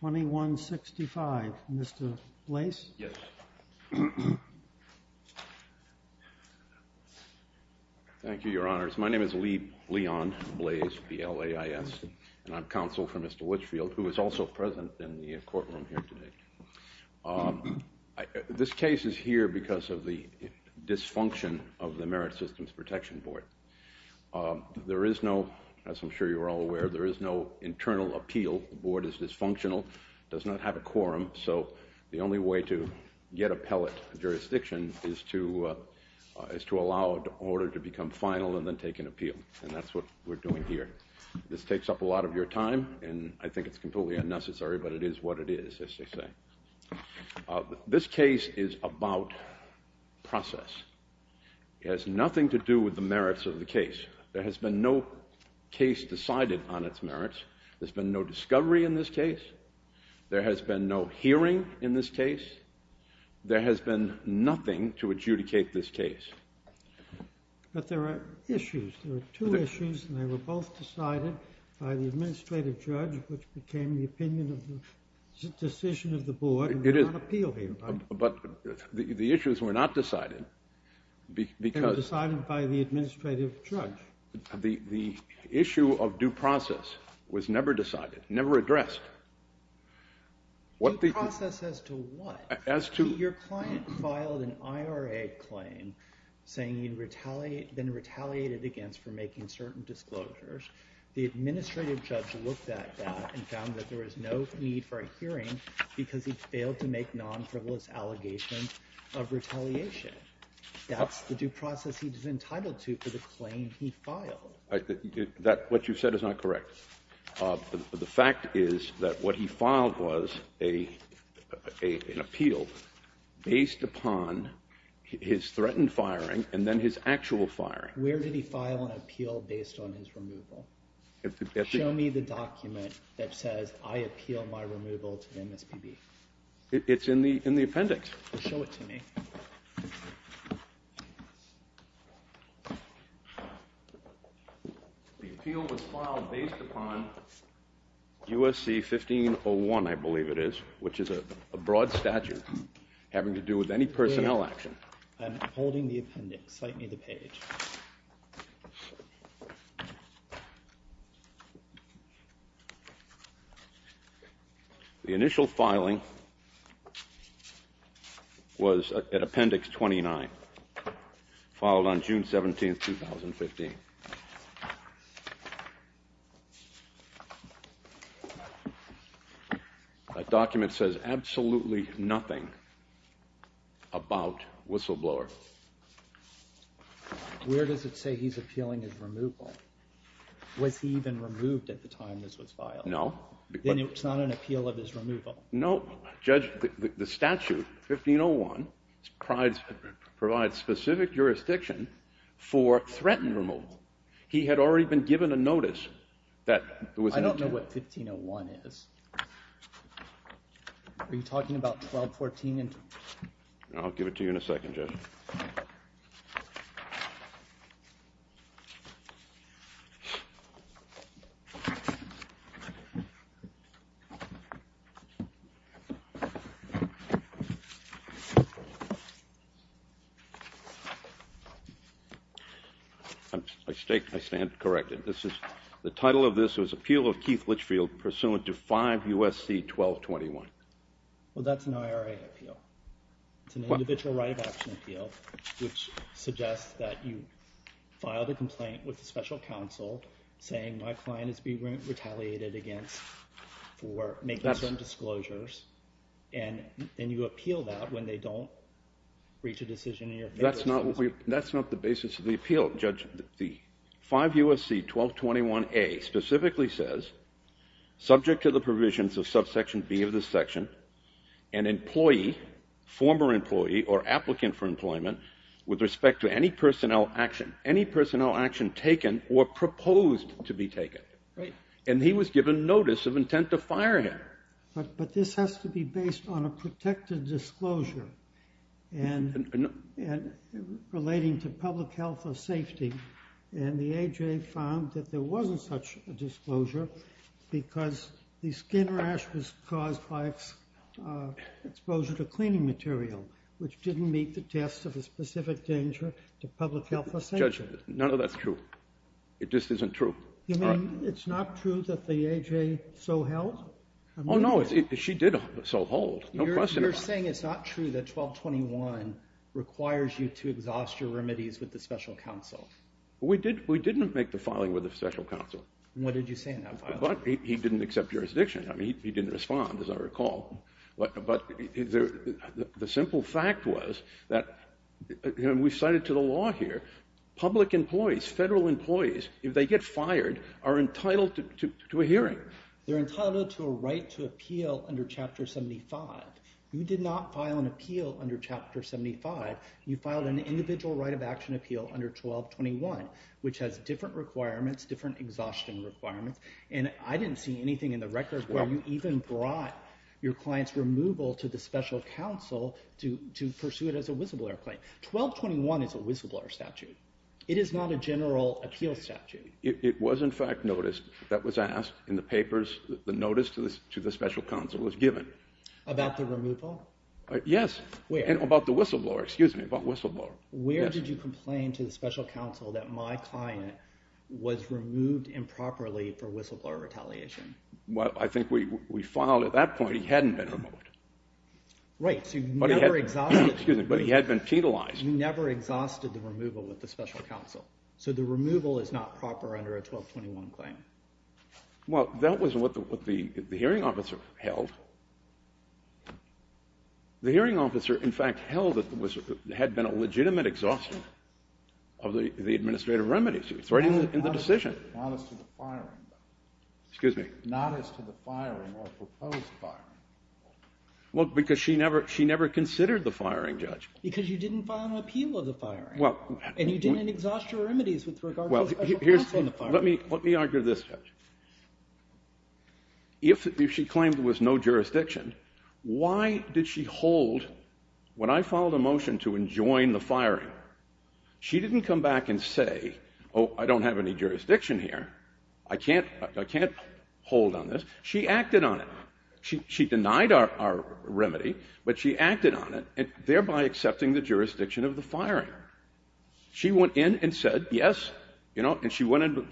2165. Mr. Blais? Yes. Thank you, Your Honors. My name is Leon Blais, and I'm counsel for Mr. Litchfield, who is also present in the courtroom here today. This case is here because of the dysfunction of the Merit Systems Protection Board. There is no, as I'm sure you are all aware, there is no internal appeal. The board is dysfunctional, does not have a quorum. So the only way to get a pellet jurisdiction is to allow an order to become final and then take an appeal. And that's what we're doing here. This takes up a lot of your time, and I think it's completely unnecessary, but it is what it is, as they say. This case is about process. It has nothing to do with the merits of the case. There has been no case decided on its merits. There's been no discovery in this case. There has been no hearing in this case. There has been nothing to adjudicate this case. But there are issues. There are two issues, and they were both decided by the administrative judge, which became the opinion of the decision of the board, and they're not appeal here. But the issues were not decided because... They were decided by the administrative judge. The issue of due process was never decided, never addressed. Due process as to what? As to... ...saying he'd been retaliated against for making certain disclosures. The administrative judge looked at that and found that there was no need for a hearing because he failed to make non-frivolous allegations of retaliation. That's the due process he was entitled to for the claim he filed. What you said is not correct. The fact is that what he filed was an appeal based upon his threatened firing and then his actual firing. Where did he file an appeal based on his removal? Show me the document that says, I appeal my removal to the MSPB. It's in the appendix. Show it to me. The appeal was filed based upon USC 1501, I believe it is, which is a broad statute having to do with any personnel action. I'm holding the appendix. Cite me the page. The initial filing was at appendix 29, filed on June 17, 2015. That document says absolutely nothing about Whistleblower. Where does it say he's appealing his removal? Was he even removed at the time this was filed? No. No. Judge, the statute, 1501, provides specific jurisdiction for threatened removal. He had already been given a notice that it was an appeal. I don't know what 1501 is. Are you talking about 1214? I stand corrected. The title of this was Appeal of Keith Litchfield Pursuant to 5 USC 1221. Well, that's an IRA appeal. It's an individual right of action appeal, which suggests that you filed a complaint with the special counsel saying my client is being retaliated against for making certain disclosures, and you appeal that when they don't reach a decision in your favor. That's not the basis of the appeal, Judge. The 5 USC 1221A specifically says, subject to the provisions of subsection B of the section, an employee, former employee or applicant for employment, with respect to any personnel action, any personnel action taken or proposed to be taken. Right. And he was given notice of intent to fire him. But this has to be based on a protected disclosure and relating to public health or safety, and the A.J. found that there wasn't such a disclosure because the skin rash was caused by exposure to cleaning material, which didn't meet the test of a specific danger to public health or safety. Judge, none of that's true. It just isn't true. You mean it's not true that the A.J. so held? Oh, no. She did so hold. No question about it. You're saying it's not true that 1221 requires you to exhaust your remedies with the special counsel? We didn't make the filing with the special counsel. What did you say in that filing? He didn't accept jurisdiction. He didn't respond, as I recall. But the simple fact was that we cited to the law here, public employees, federal employees, if they get fired, are entitled to a hearing. They're entitled to a right to appeal under Chapter 75. You did not file an appeal under Chapter 75. You filed an individual right of action appeal under 1221, which has different requirements, different exhaustion requirements, and I didn't see anything in the records where you even brought your client's removal to the special counsel to pursue it as a whistleblower claim. 1221 is a whistleblower statute. It is not a general appeal statute. It was, in fact, noticed. That was asked in the papers. The notice to the special counsel was given. About the removal? Yes. Where? About the whistleblower. Excuse me, about whistleblower. Yes. Where did you complain to the special counsel that my client was removed improperly for whistleblower retaliation? Well, I think we filed at that point. He hadn't been removed. Right. But he had been penalized. You never exhausted the removal with the special counsel. So the removal is not proper under a 1221 claim. Well, that was what the hearing officer held. The hearing officer, in fact, held that there had been a legitimate exhaustion of the administrative remedies. It's right in the decision. Not as to the firing, though. Excuse me? Not as to the firing or proposed firing. Well, because she never considered the firing, Judge. Because you didn't file an appeal of the firing. And you didn't exhaust your remedies with regard to the special counsel. Well, here's the thing. Let me argue this, Judge. If she claimed there was no jurisdiction, why did she hold when I filed a motion to enjoin the firing? She didn't come back and say, oh, I don't have any jurisdiction here. I can't hold on this. She acted on it. She denied our remedy, but she acted on it, thereby accepting the jurisdiction of the firing. She went in and said, yes, you know, and she went in.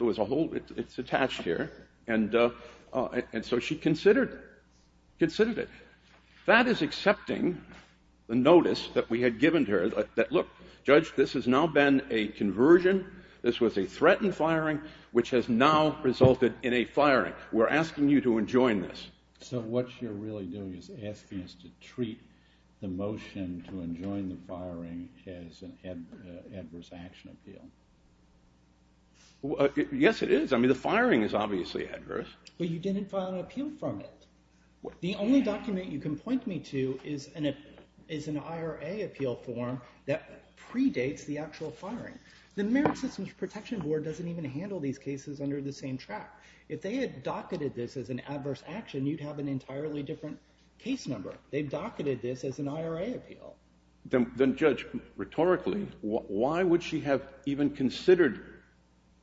It's attached here. And so she considered it. That is accepting the notice that we had given to her that, look, Judge, this has now been a conversion. This was a threatened firing, which has now resulted in a firing. We're asking you to enjoin this. So what you're really doing is asking us to treat the motion to enjoin the firing as an adverse action appeal. Yes, it is. I mean, the firing is obviously adverse. But you didn't file an appeal from it. The only document you can point me to is an IRA appeal form that predates the actual firing. The Merit Systems Protection Board doesn't even handle these cases under the same track. If they had docketed this as an adverse action, you'd have an entirely different case number. They've docketed this as an IRA appeal. Then, Judge, rhetorically, why would she have even considered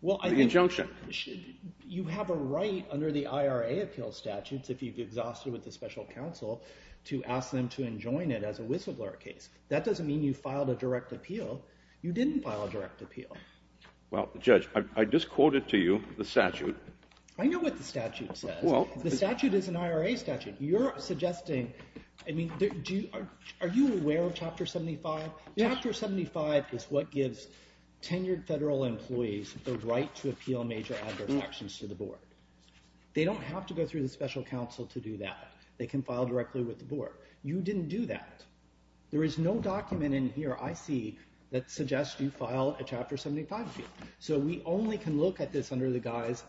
the injunction? Well, I think you have a right under the IRA appeal statutes, if you've exhausted with the special counsel, to ask them to enjoin it as a whistleblower case. That doesn't mean you filed a direct appeal. You didn't file a direct appeal. Well, Judge, I just quoted to you the statute. I know what the statute says. The statute is an IRA statute. You're suggesting, I mean, are you aware of Chapter 75? Chapter 75 is what gives tenured federal employees the right to appeal major adverse actions to the board. They don't have to go through the special counsel to do that. They can file directly with the board. You didn't do that. There is no document in here, I see, that suggests you filed a Chapter 75 appeal. So we only can look at this under the guise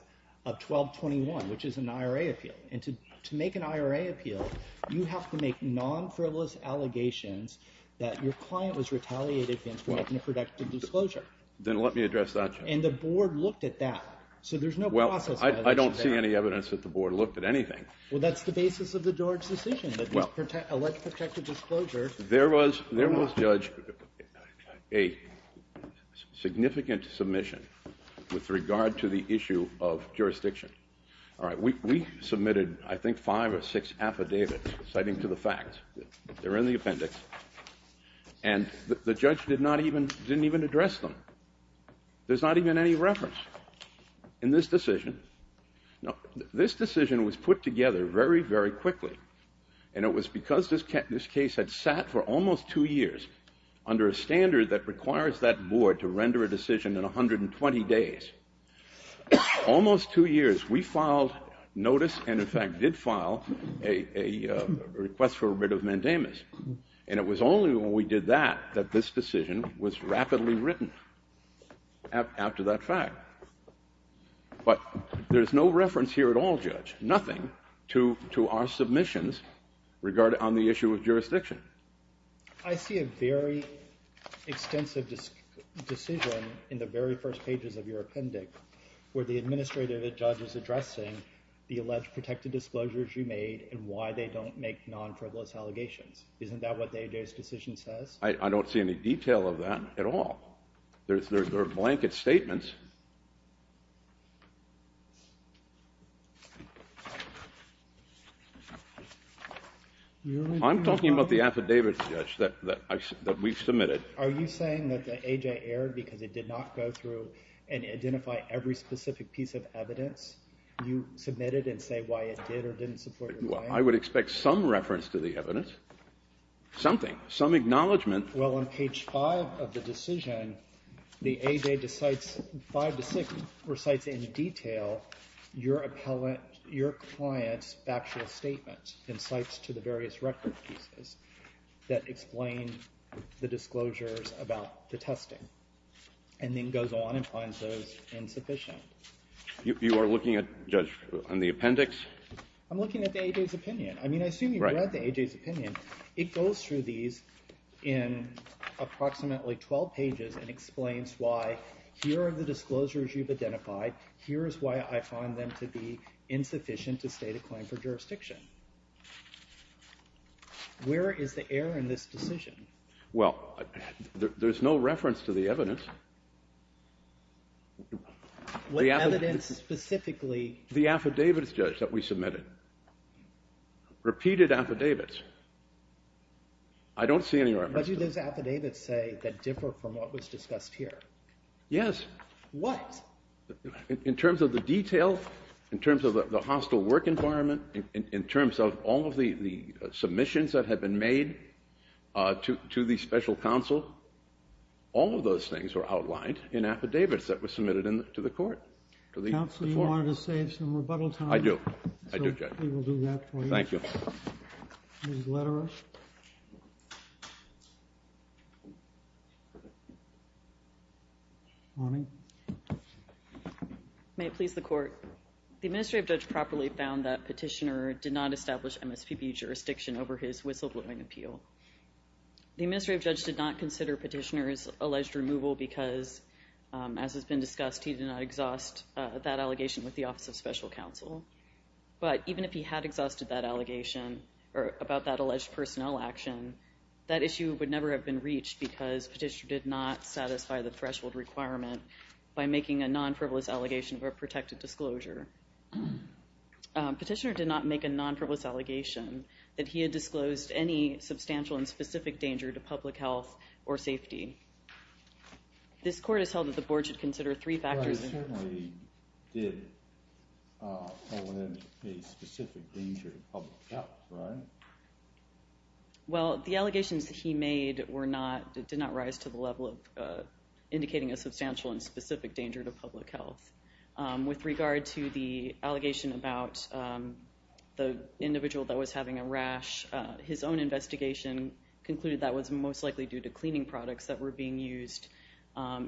of 1221, which is an IRA appeal. And to make an IRA appeal, you have to make non-frivolous allegations that your client was retaliated against for making a protective disclosure. Then let me address that, Judge. And the board looked at that. So there's no process. Well, I don't see any evidence that the board looked at anything. Well, that's the basis of the George decision, that elects protective disclosure. There was, Judge, a significant submission with regard to the issue of jurisdiction. All right. We submitted, I think, five or six affidavits citing to the facts. They're in the appendix. And the judge didn't even address them. There's not even any reference in this decision. Now, this decision was put together very, very quickly. And it was because this case had sat for almost two years under a standard that requires that board to render a decision in 120 days. Almost two years. We filed notice and, in fact, did file a request for a writ of mandamus. And it was only when we did that that this decision was rapidly written after that fact. But there's no reference here at all, Judge, nothing to our submissions on the issue of jurisdiction. I see a very extensive decision in the very first pages of your appendix where the administrative judge is addressing the alleged protective disclosures you made and why they don't make non-frivolous allegations. Isn't that what the AJ's decision says? I don't see any detail of that at all. There are blanket statements. I'm talking about the affidavit, Judge, that we've submitted. Are you saying that the AJ erred because it did not go through and identify every specific piece of evidence you submitted and say why it did or didn't support your claim? Well, I would expect some reference to the evidence, something, some acknowledgment. Well, on page 5 of the decision, the AJ decides, 5 to 6, recites in detail your client's factual statement and cites to the various record pieces that explain the disclosures about the testing and then goes on and finds those insufficient. You are looking at, Judge, on the appendix? I'm looking at the AJ's opinion. I mean, I assume you've read the AJ's opinion. It goes through these in approximately 12 pages and explains why here are the disclosures you've identified. Here is why I find them to be insufficient to state a claim for jurisdiction. Where is the error in this decision? Well, there's no reference to the evidence. What evidence specifically? The affidavit, Judge, that we submitted. Repeated affidavits. I don't see any reference to that. But do those affidavits say that differ from what was discussed here? Yes. What? In terms of the detail, in terms of the hostile work environment, in terms of all of the submissions that had been made to the special counsel, all of those things were outlined in affidavits that were submitted to the court. Counsel, you wanted to save some rebuttal time? I do. I do, Judge. We will do that for you. Thank you. Ms. Lederer. May it please the court. The administrative judge properly found that Petitioner did not establish MSPB jurisdiction over his whistleblowing appeal. The administrative judge did not consider Petitioner's alleged removal because, as has been discussed, he did not exhaust that allegation with the Office of Special Counsel. But even if he had exhausted that allegation about that alleged personnel action, that issue would never have been reached because Petitioner did not satisfy the threshold requirement by making a non-frivolous allegation of a protected disclosure. Petitioner did not make a non-frivolous allegation that he had disclosed any substantial and specific danger to public health or safety. This court has held that the board should consider three factors. Well, he certainly did point out a specific danger to public health, right? Well, the allegations that he made did not rise to the level of indicating a substantial and specific danger to public health. With regard to the allegation about the individual that was having a rash, his own investigation concluded that was most likely due to cleaning products that were being used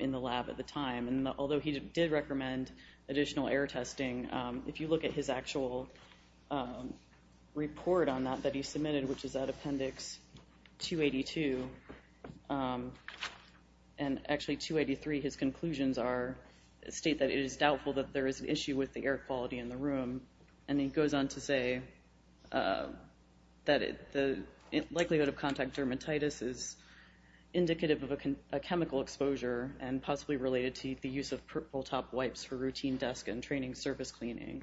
in the lab at the time. And although he did recommend additional air testing, if you look at his actual report on that that he submitted, which is at Appendix 282 and actually 283, his conclusions state that it is doubtful that there is an issue with the air quality in the room. And he goes on to say that the likelihood of contact dermatitis is indicative of a chemical exposure and possibly related to the use of purple top wipes for routine desk and training surface cleaning.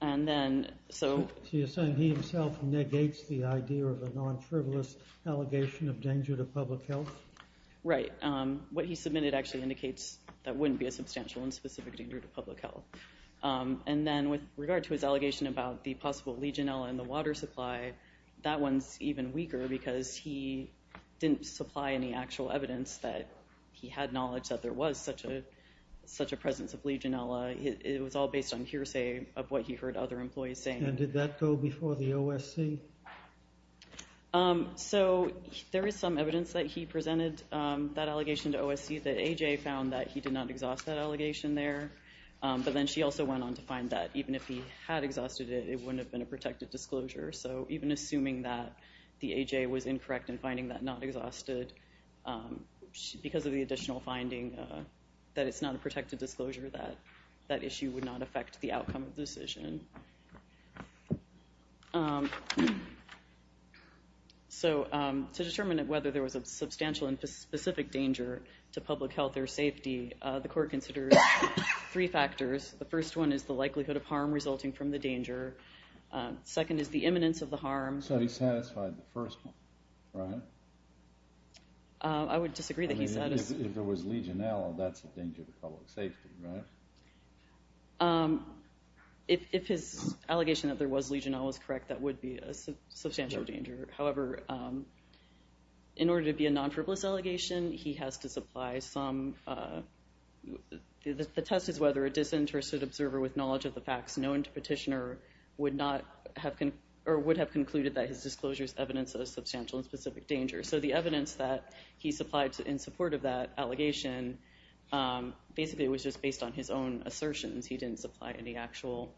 So you're saying he himself negates the idea of a non-frivolous allegation of danger to public health? Right. What he submitted actually indicates that wouldn't be a substantial and specific danger to public health. And then with regard to his allegation about the possible Legionella in the water supply, that one's even weaker because he didn't supply any actual evidence that he had knowledge that there was such a presence of Legionella. It was all based on hearsay of what he heard other employees saying. And did that go before the OSC? So there is some evidence that he presented that allegation to OSC that AJ found that he did not exhaust that allegation there. But then she also went on to find that even if he had exhausted it, it wouldn't have been a protected disclosure. So even assuming that the AJ was incorrect in finding that not exhausted because of the additional finding that it's not a protected disclosure, that issue would not affect the outcome of the decision. So to determine whether there was a substantial and specific danger to public health or safety, the court considers three factors. The first one is the likelihood of harm resulting from the danger. Second is the imminence of the harm. So he satisfied the first one, right? I would disagree that he satisfied. If there was Legionella, that's a danger to public safety, right? If his allegation that there was Legionella was correct, that would be a substantial danger. However, in order to be a non-frivolous allegation, he has to supply some... The test is whether a disinterested observer with knowledge of the facts known to petitioner would have concluded that his disclosure is evidence of a substantial and specific danger. So the evidence that he supplied in support of that allegation, basically it was just based on his own assertions. He didn't supply any actual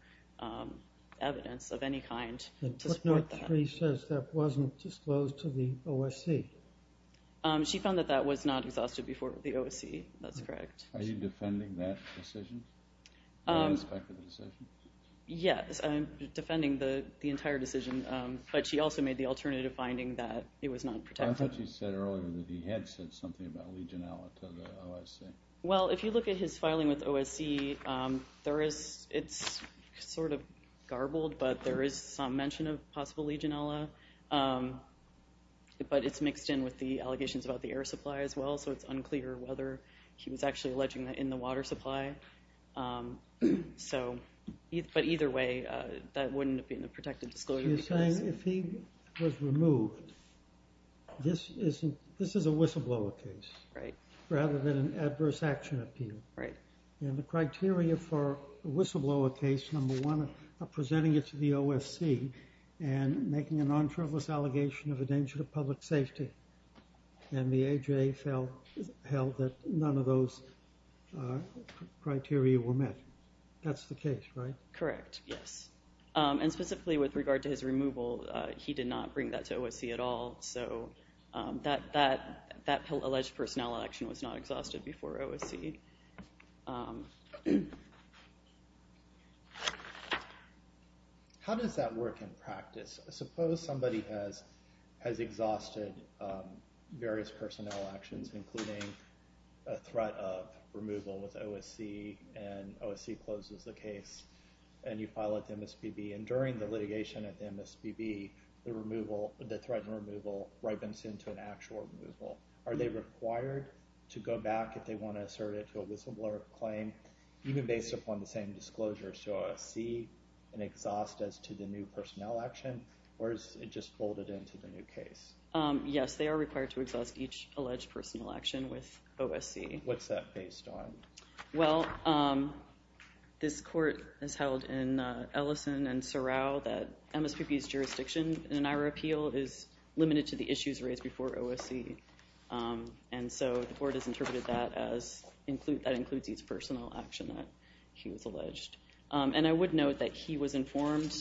evidence of any kind to support that. Northree says that wasn't disclosed to the OSC. She found that that was not exhausted before the OSC. That's correct. Are you defending that decision? Yes, I'm defending the entire decision, but she also made the alternative finding that it was not protected. I thought she said earlier that he had said something about Legionella to the OSC. Well, if you look at his filing with OSC, it's sort of garbled, but there is some mention of possible Legionella. But it's mixed in with the allegations about the air supply as well, so it's unclear whether he was actually alleging that in the water supply. But either way, that wouldn't have been a protected disclosure. You're saying if he was removed, this is a whistleblower case rather than an adverse action appeal. And the criteria for a whistleblower case, number one, are presenting it to the OSC and making a non-trivialist allegation of a danger to public safety. And the AJA held that none of those criteria were met. That's the case, right? Correct, yes. And specifically with regard to his removal, he did not bring that to OSC at all. So that alleged personnel action was not exhausted before OSC. How does that work in practice? Suppose somebody has exhausted various personnel actions, including a threat of removal with OSC, and OSC closes the case, and you file it to MSPB. And during the litigation at the MSPB, the threat and removal ripens into an actual removal. Are they required to go back if they want to assert it to a whistleblower claim, even based upon the same disclosures to OSC, and exhaust as to the new personnel action? Or is it just folded into the new case? Yes, they are required to exhaust each alleged personnel action with OSC. What's that based on? Well, this court has held in Ellison and Sorrell that MSPB's jurisdiction in our appeal is limited to the issues raised before OSC. And so the court has interpreted that as that includes each personnel action that he was alleged. And I would note that he was informed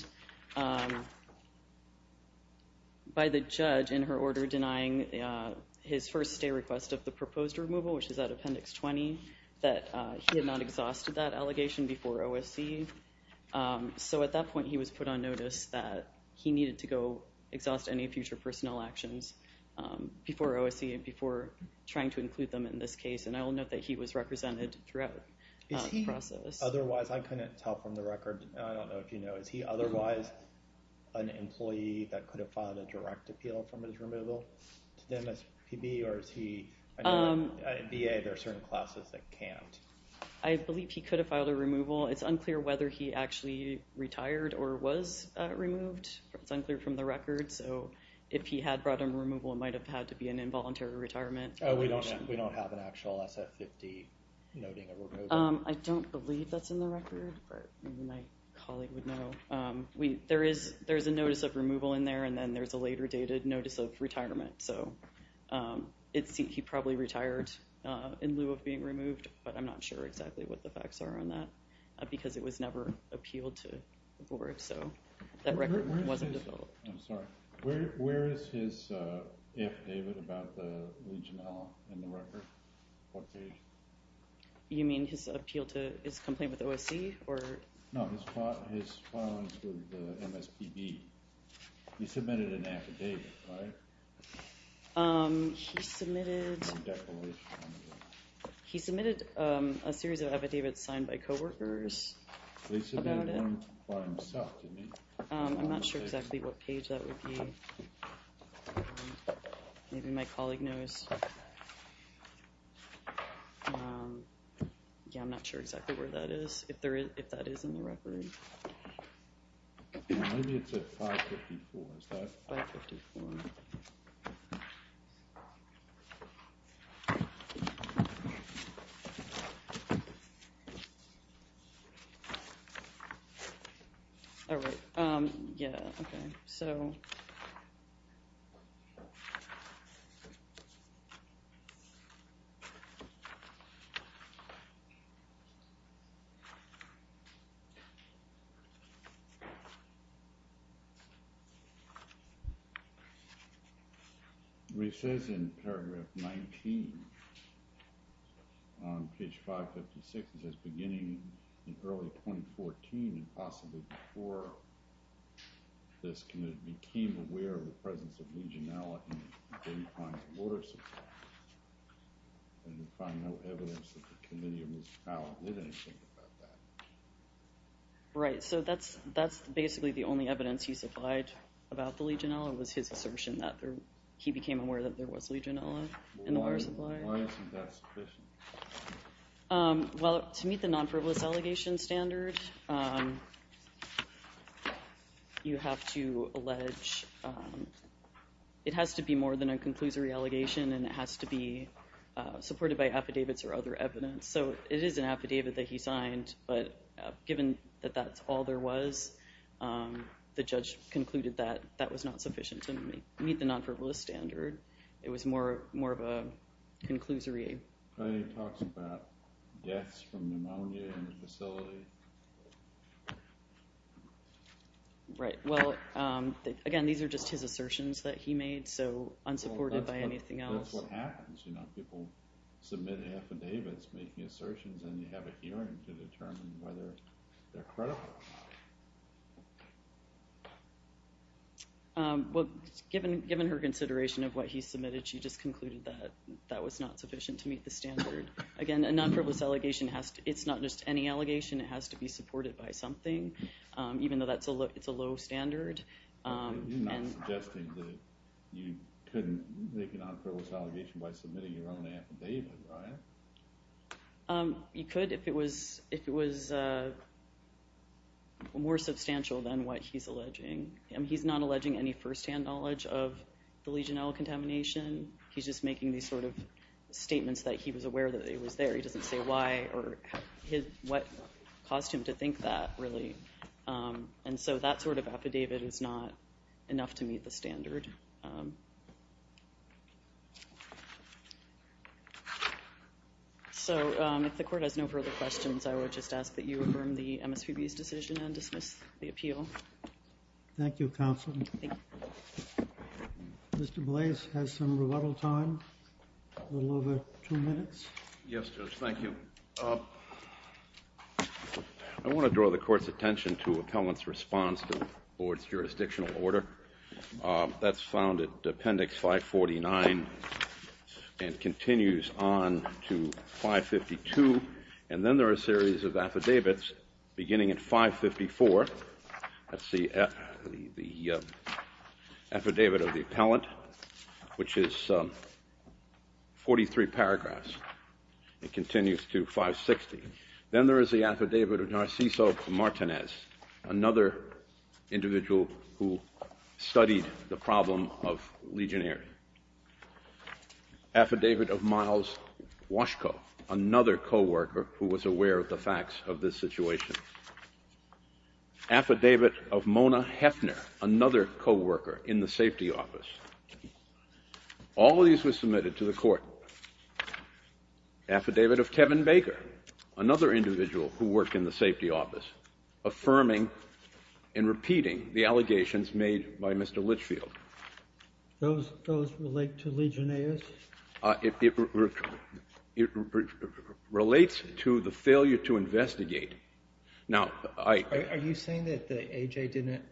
by the judge in her order denying his first stay request of the proposed removal, which is at Appendix 20, that he had not exhausted that allegation before OSC. So at that point, he was put on notice that he needed to go exhaust any future personnel actions before OSC and before trying to include them in this case. And I will note that he was represented throughout the process. Otherwise, I couldn't tell from the record. I don't know if you know, is he otherwise an employee that could have filed a direct appeal from his removal to the MSPB? Or is he a VA? There are certain classes that can't. I believe he could have filed a removal. It's unclear whether he actually retired or was removed. It's unclear from the record. So if he had brought a removal, it might have had to be an involuntary retirement. We don't have an actual SF-50 noting a removal. I don't believe that's in the record. My colleague would know. There is a notice of removal in there, and then there's a later dated notice of retirement. So he probably retired in lieu of being removed, but I'm not sure exactly what the facts are on that because it was never appealed to the board. So that record wasn't developed. I'm sorry. Where is his affidavit about the Legionella in the record? What page? You mean his appeal to his complaint with the OSC? No, his filings with the MSPB. He submitted an affidavit, right? He submitted a series of affidavits signed by coworkers about it. He submitted one by himself, didn't he? I'm not sure exactly what page that would be. Maybe my colleague knows. Yeah, I'm not sure exactly where that is, if that is in the record. Maybe it's at 554. Is that 554? Oh, right. Yeah, okay. So... It says in paragraph 19 on page 556, it says, Right, so that's basically the only evidence he supplied about the Legionella was his assertion that he became aware that there was Legionella in the water supply. Why isn't that sufficient? Well, to meet the non-frivolous allegation standard, you have to allege it has to be more than a conclusory allegation, and it has to be supported by affidavits or other evidence. So it is an affidavit that he signed, but given that that's all there was, the judge concluded that that was not sufficient to meet the non-frivolous standard. It was more of a conclusory. He talks about deaths from pneumonia in the facility. Right. Well, again, these are just his assertions that he made, so unsupported by anything else. That's what happens. People submit affidavits making assertions, and you have a hearing to determine whether they're credible. Well, given her consideration of what he submitted, she just concluded that that was not sufficient to meet the standard. Again, a non-frivolous allegation, it's not just any allegation. It has to be supported by something, even though it's a low standard. You're not suggesting that you couldn't make a non-frivolous allegation by submitting your own affidavit, right? You could if it was more substantial than what he's alleging. He's not alleging any firsthand knowledge of the Legionella contamination. He's just making these sort of statements that he was aware that it was there. He doesn't say why or what caused him to think that, really. And so that sort of affidavit is not enough to meet the standard. So if the Court has no further questions, I would just ask that you affirm the MSPB's decision and dismiss the appeal. Thank you, Counsel. Mr. Blase has some rebuttal time, a little over two minutes. Yes, Judge, thank you. I want to draw the Court's attention to Appellant's response to the Board's jurisdictional order. That's found at Appendix 549 and continues on to 552. And then there are a series of affidavits beginning at 554. That's the affidavit of the appellant, which is 43 paragraphs. It continues to 560. Then there is the affidavit of Narciso Martinez, another individual who studied the problem of Legionnaires. Affidavit of Miles Washko, another coworker who was aware of the facts of this situation. Affidavit of Mona Hefner, another coworker in the safety office. All of these were submitted to the Court. Affidavit of Kevin Baker, another individual who worked in the safety office, affirming and repeating the allegations made by Mr. Litchfield. Those relate to Legionnaires? It relates to the failure to investigate. Are you saying that the A.J. didn't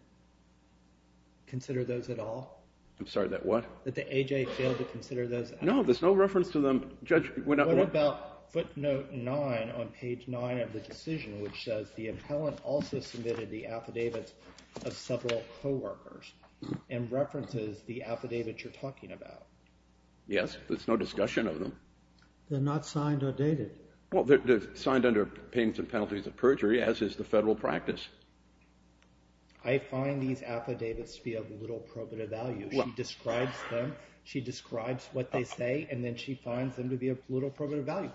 consider those at all? I'm sorry, that what? That the A.J. failed to consider those at all? No, there's no reference to them, Judge. What about footnote 9 on page 9 of the decision, which says the appellant also submitted the affidavits of several coworkers and references the affidavits you're talking about? Yes, there's no discussion of them. They're not signed or dated? Well, they're signed under pains and penalties of perjury, as is the federal practice. I find these affidavits to be of little probative value. She describes them, she describes what they say, and then she finds them to be of little probative value.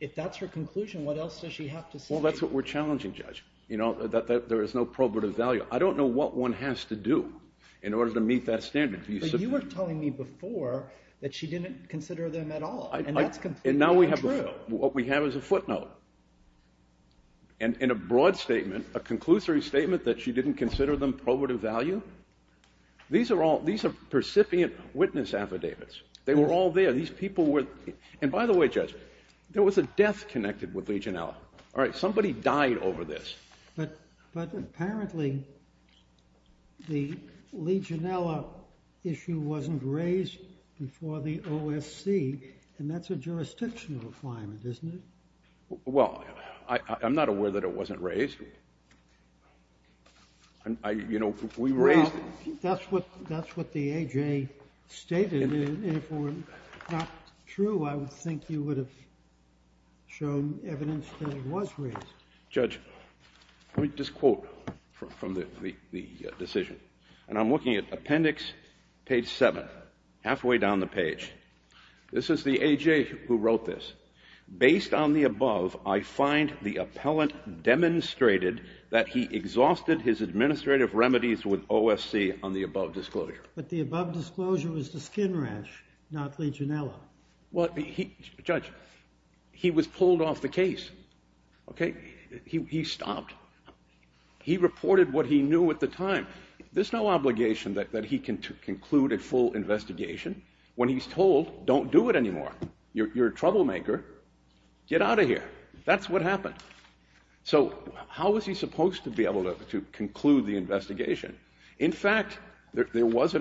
If that's her conclusion, what else does she have to say? Well, that's what we're challenging, Judge, you know, that there is no probative value. I don't know what one has to do in order to meet that standard. But you were telling me before that she didn't consider them at all, and that's completely untrue. And now what we have is a footnote and a broad statement, a conclusory statement that she didn't consider them probative value. These are percipient witness affidavits. They were all there. And by the way, Judge, there was a death connected with Legionella. Somebody died over this. But apparently the Legionella issue wasn't raised before the OSC, and that's a jurisdictional claim, isn't it? Well, I'm not aware that it wasn't raised. You know, we raised it. Well, that's what the A.J. stated. If it were not true, I would think you would have shown evidence that it was raised. Judge, let me just quote from the decision. And I'm looking at appendix page 7, halfway down the page. This is the A.J. who wrote this. Based on the above, I find the appellant demonstrated that he exhausted his administrative remedies with OSC on the above disclosure. But the above disclosure was the skin rash, not Legionella. Well, Judge, he was pulled off the case. Okay? He stopped. He reported what he knew at the time. There's no obligation that he can conclude a full investigation when he's told don't do it anymore. You're a troublemaker. Get out of here. That's what happened. So how was he supposed to be able to conclude the investigation? In fact, there was a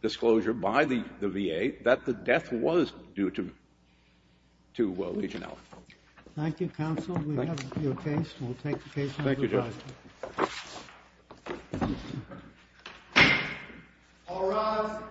disclosure by the VA that the death was due to Legionella. Thank you, counsel. We have your case. We'll take the case. Thank you, Judge. All rise.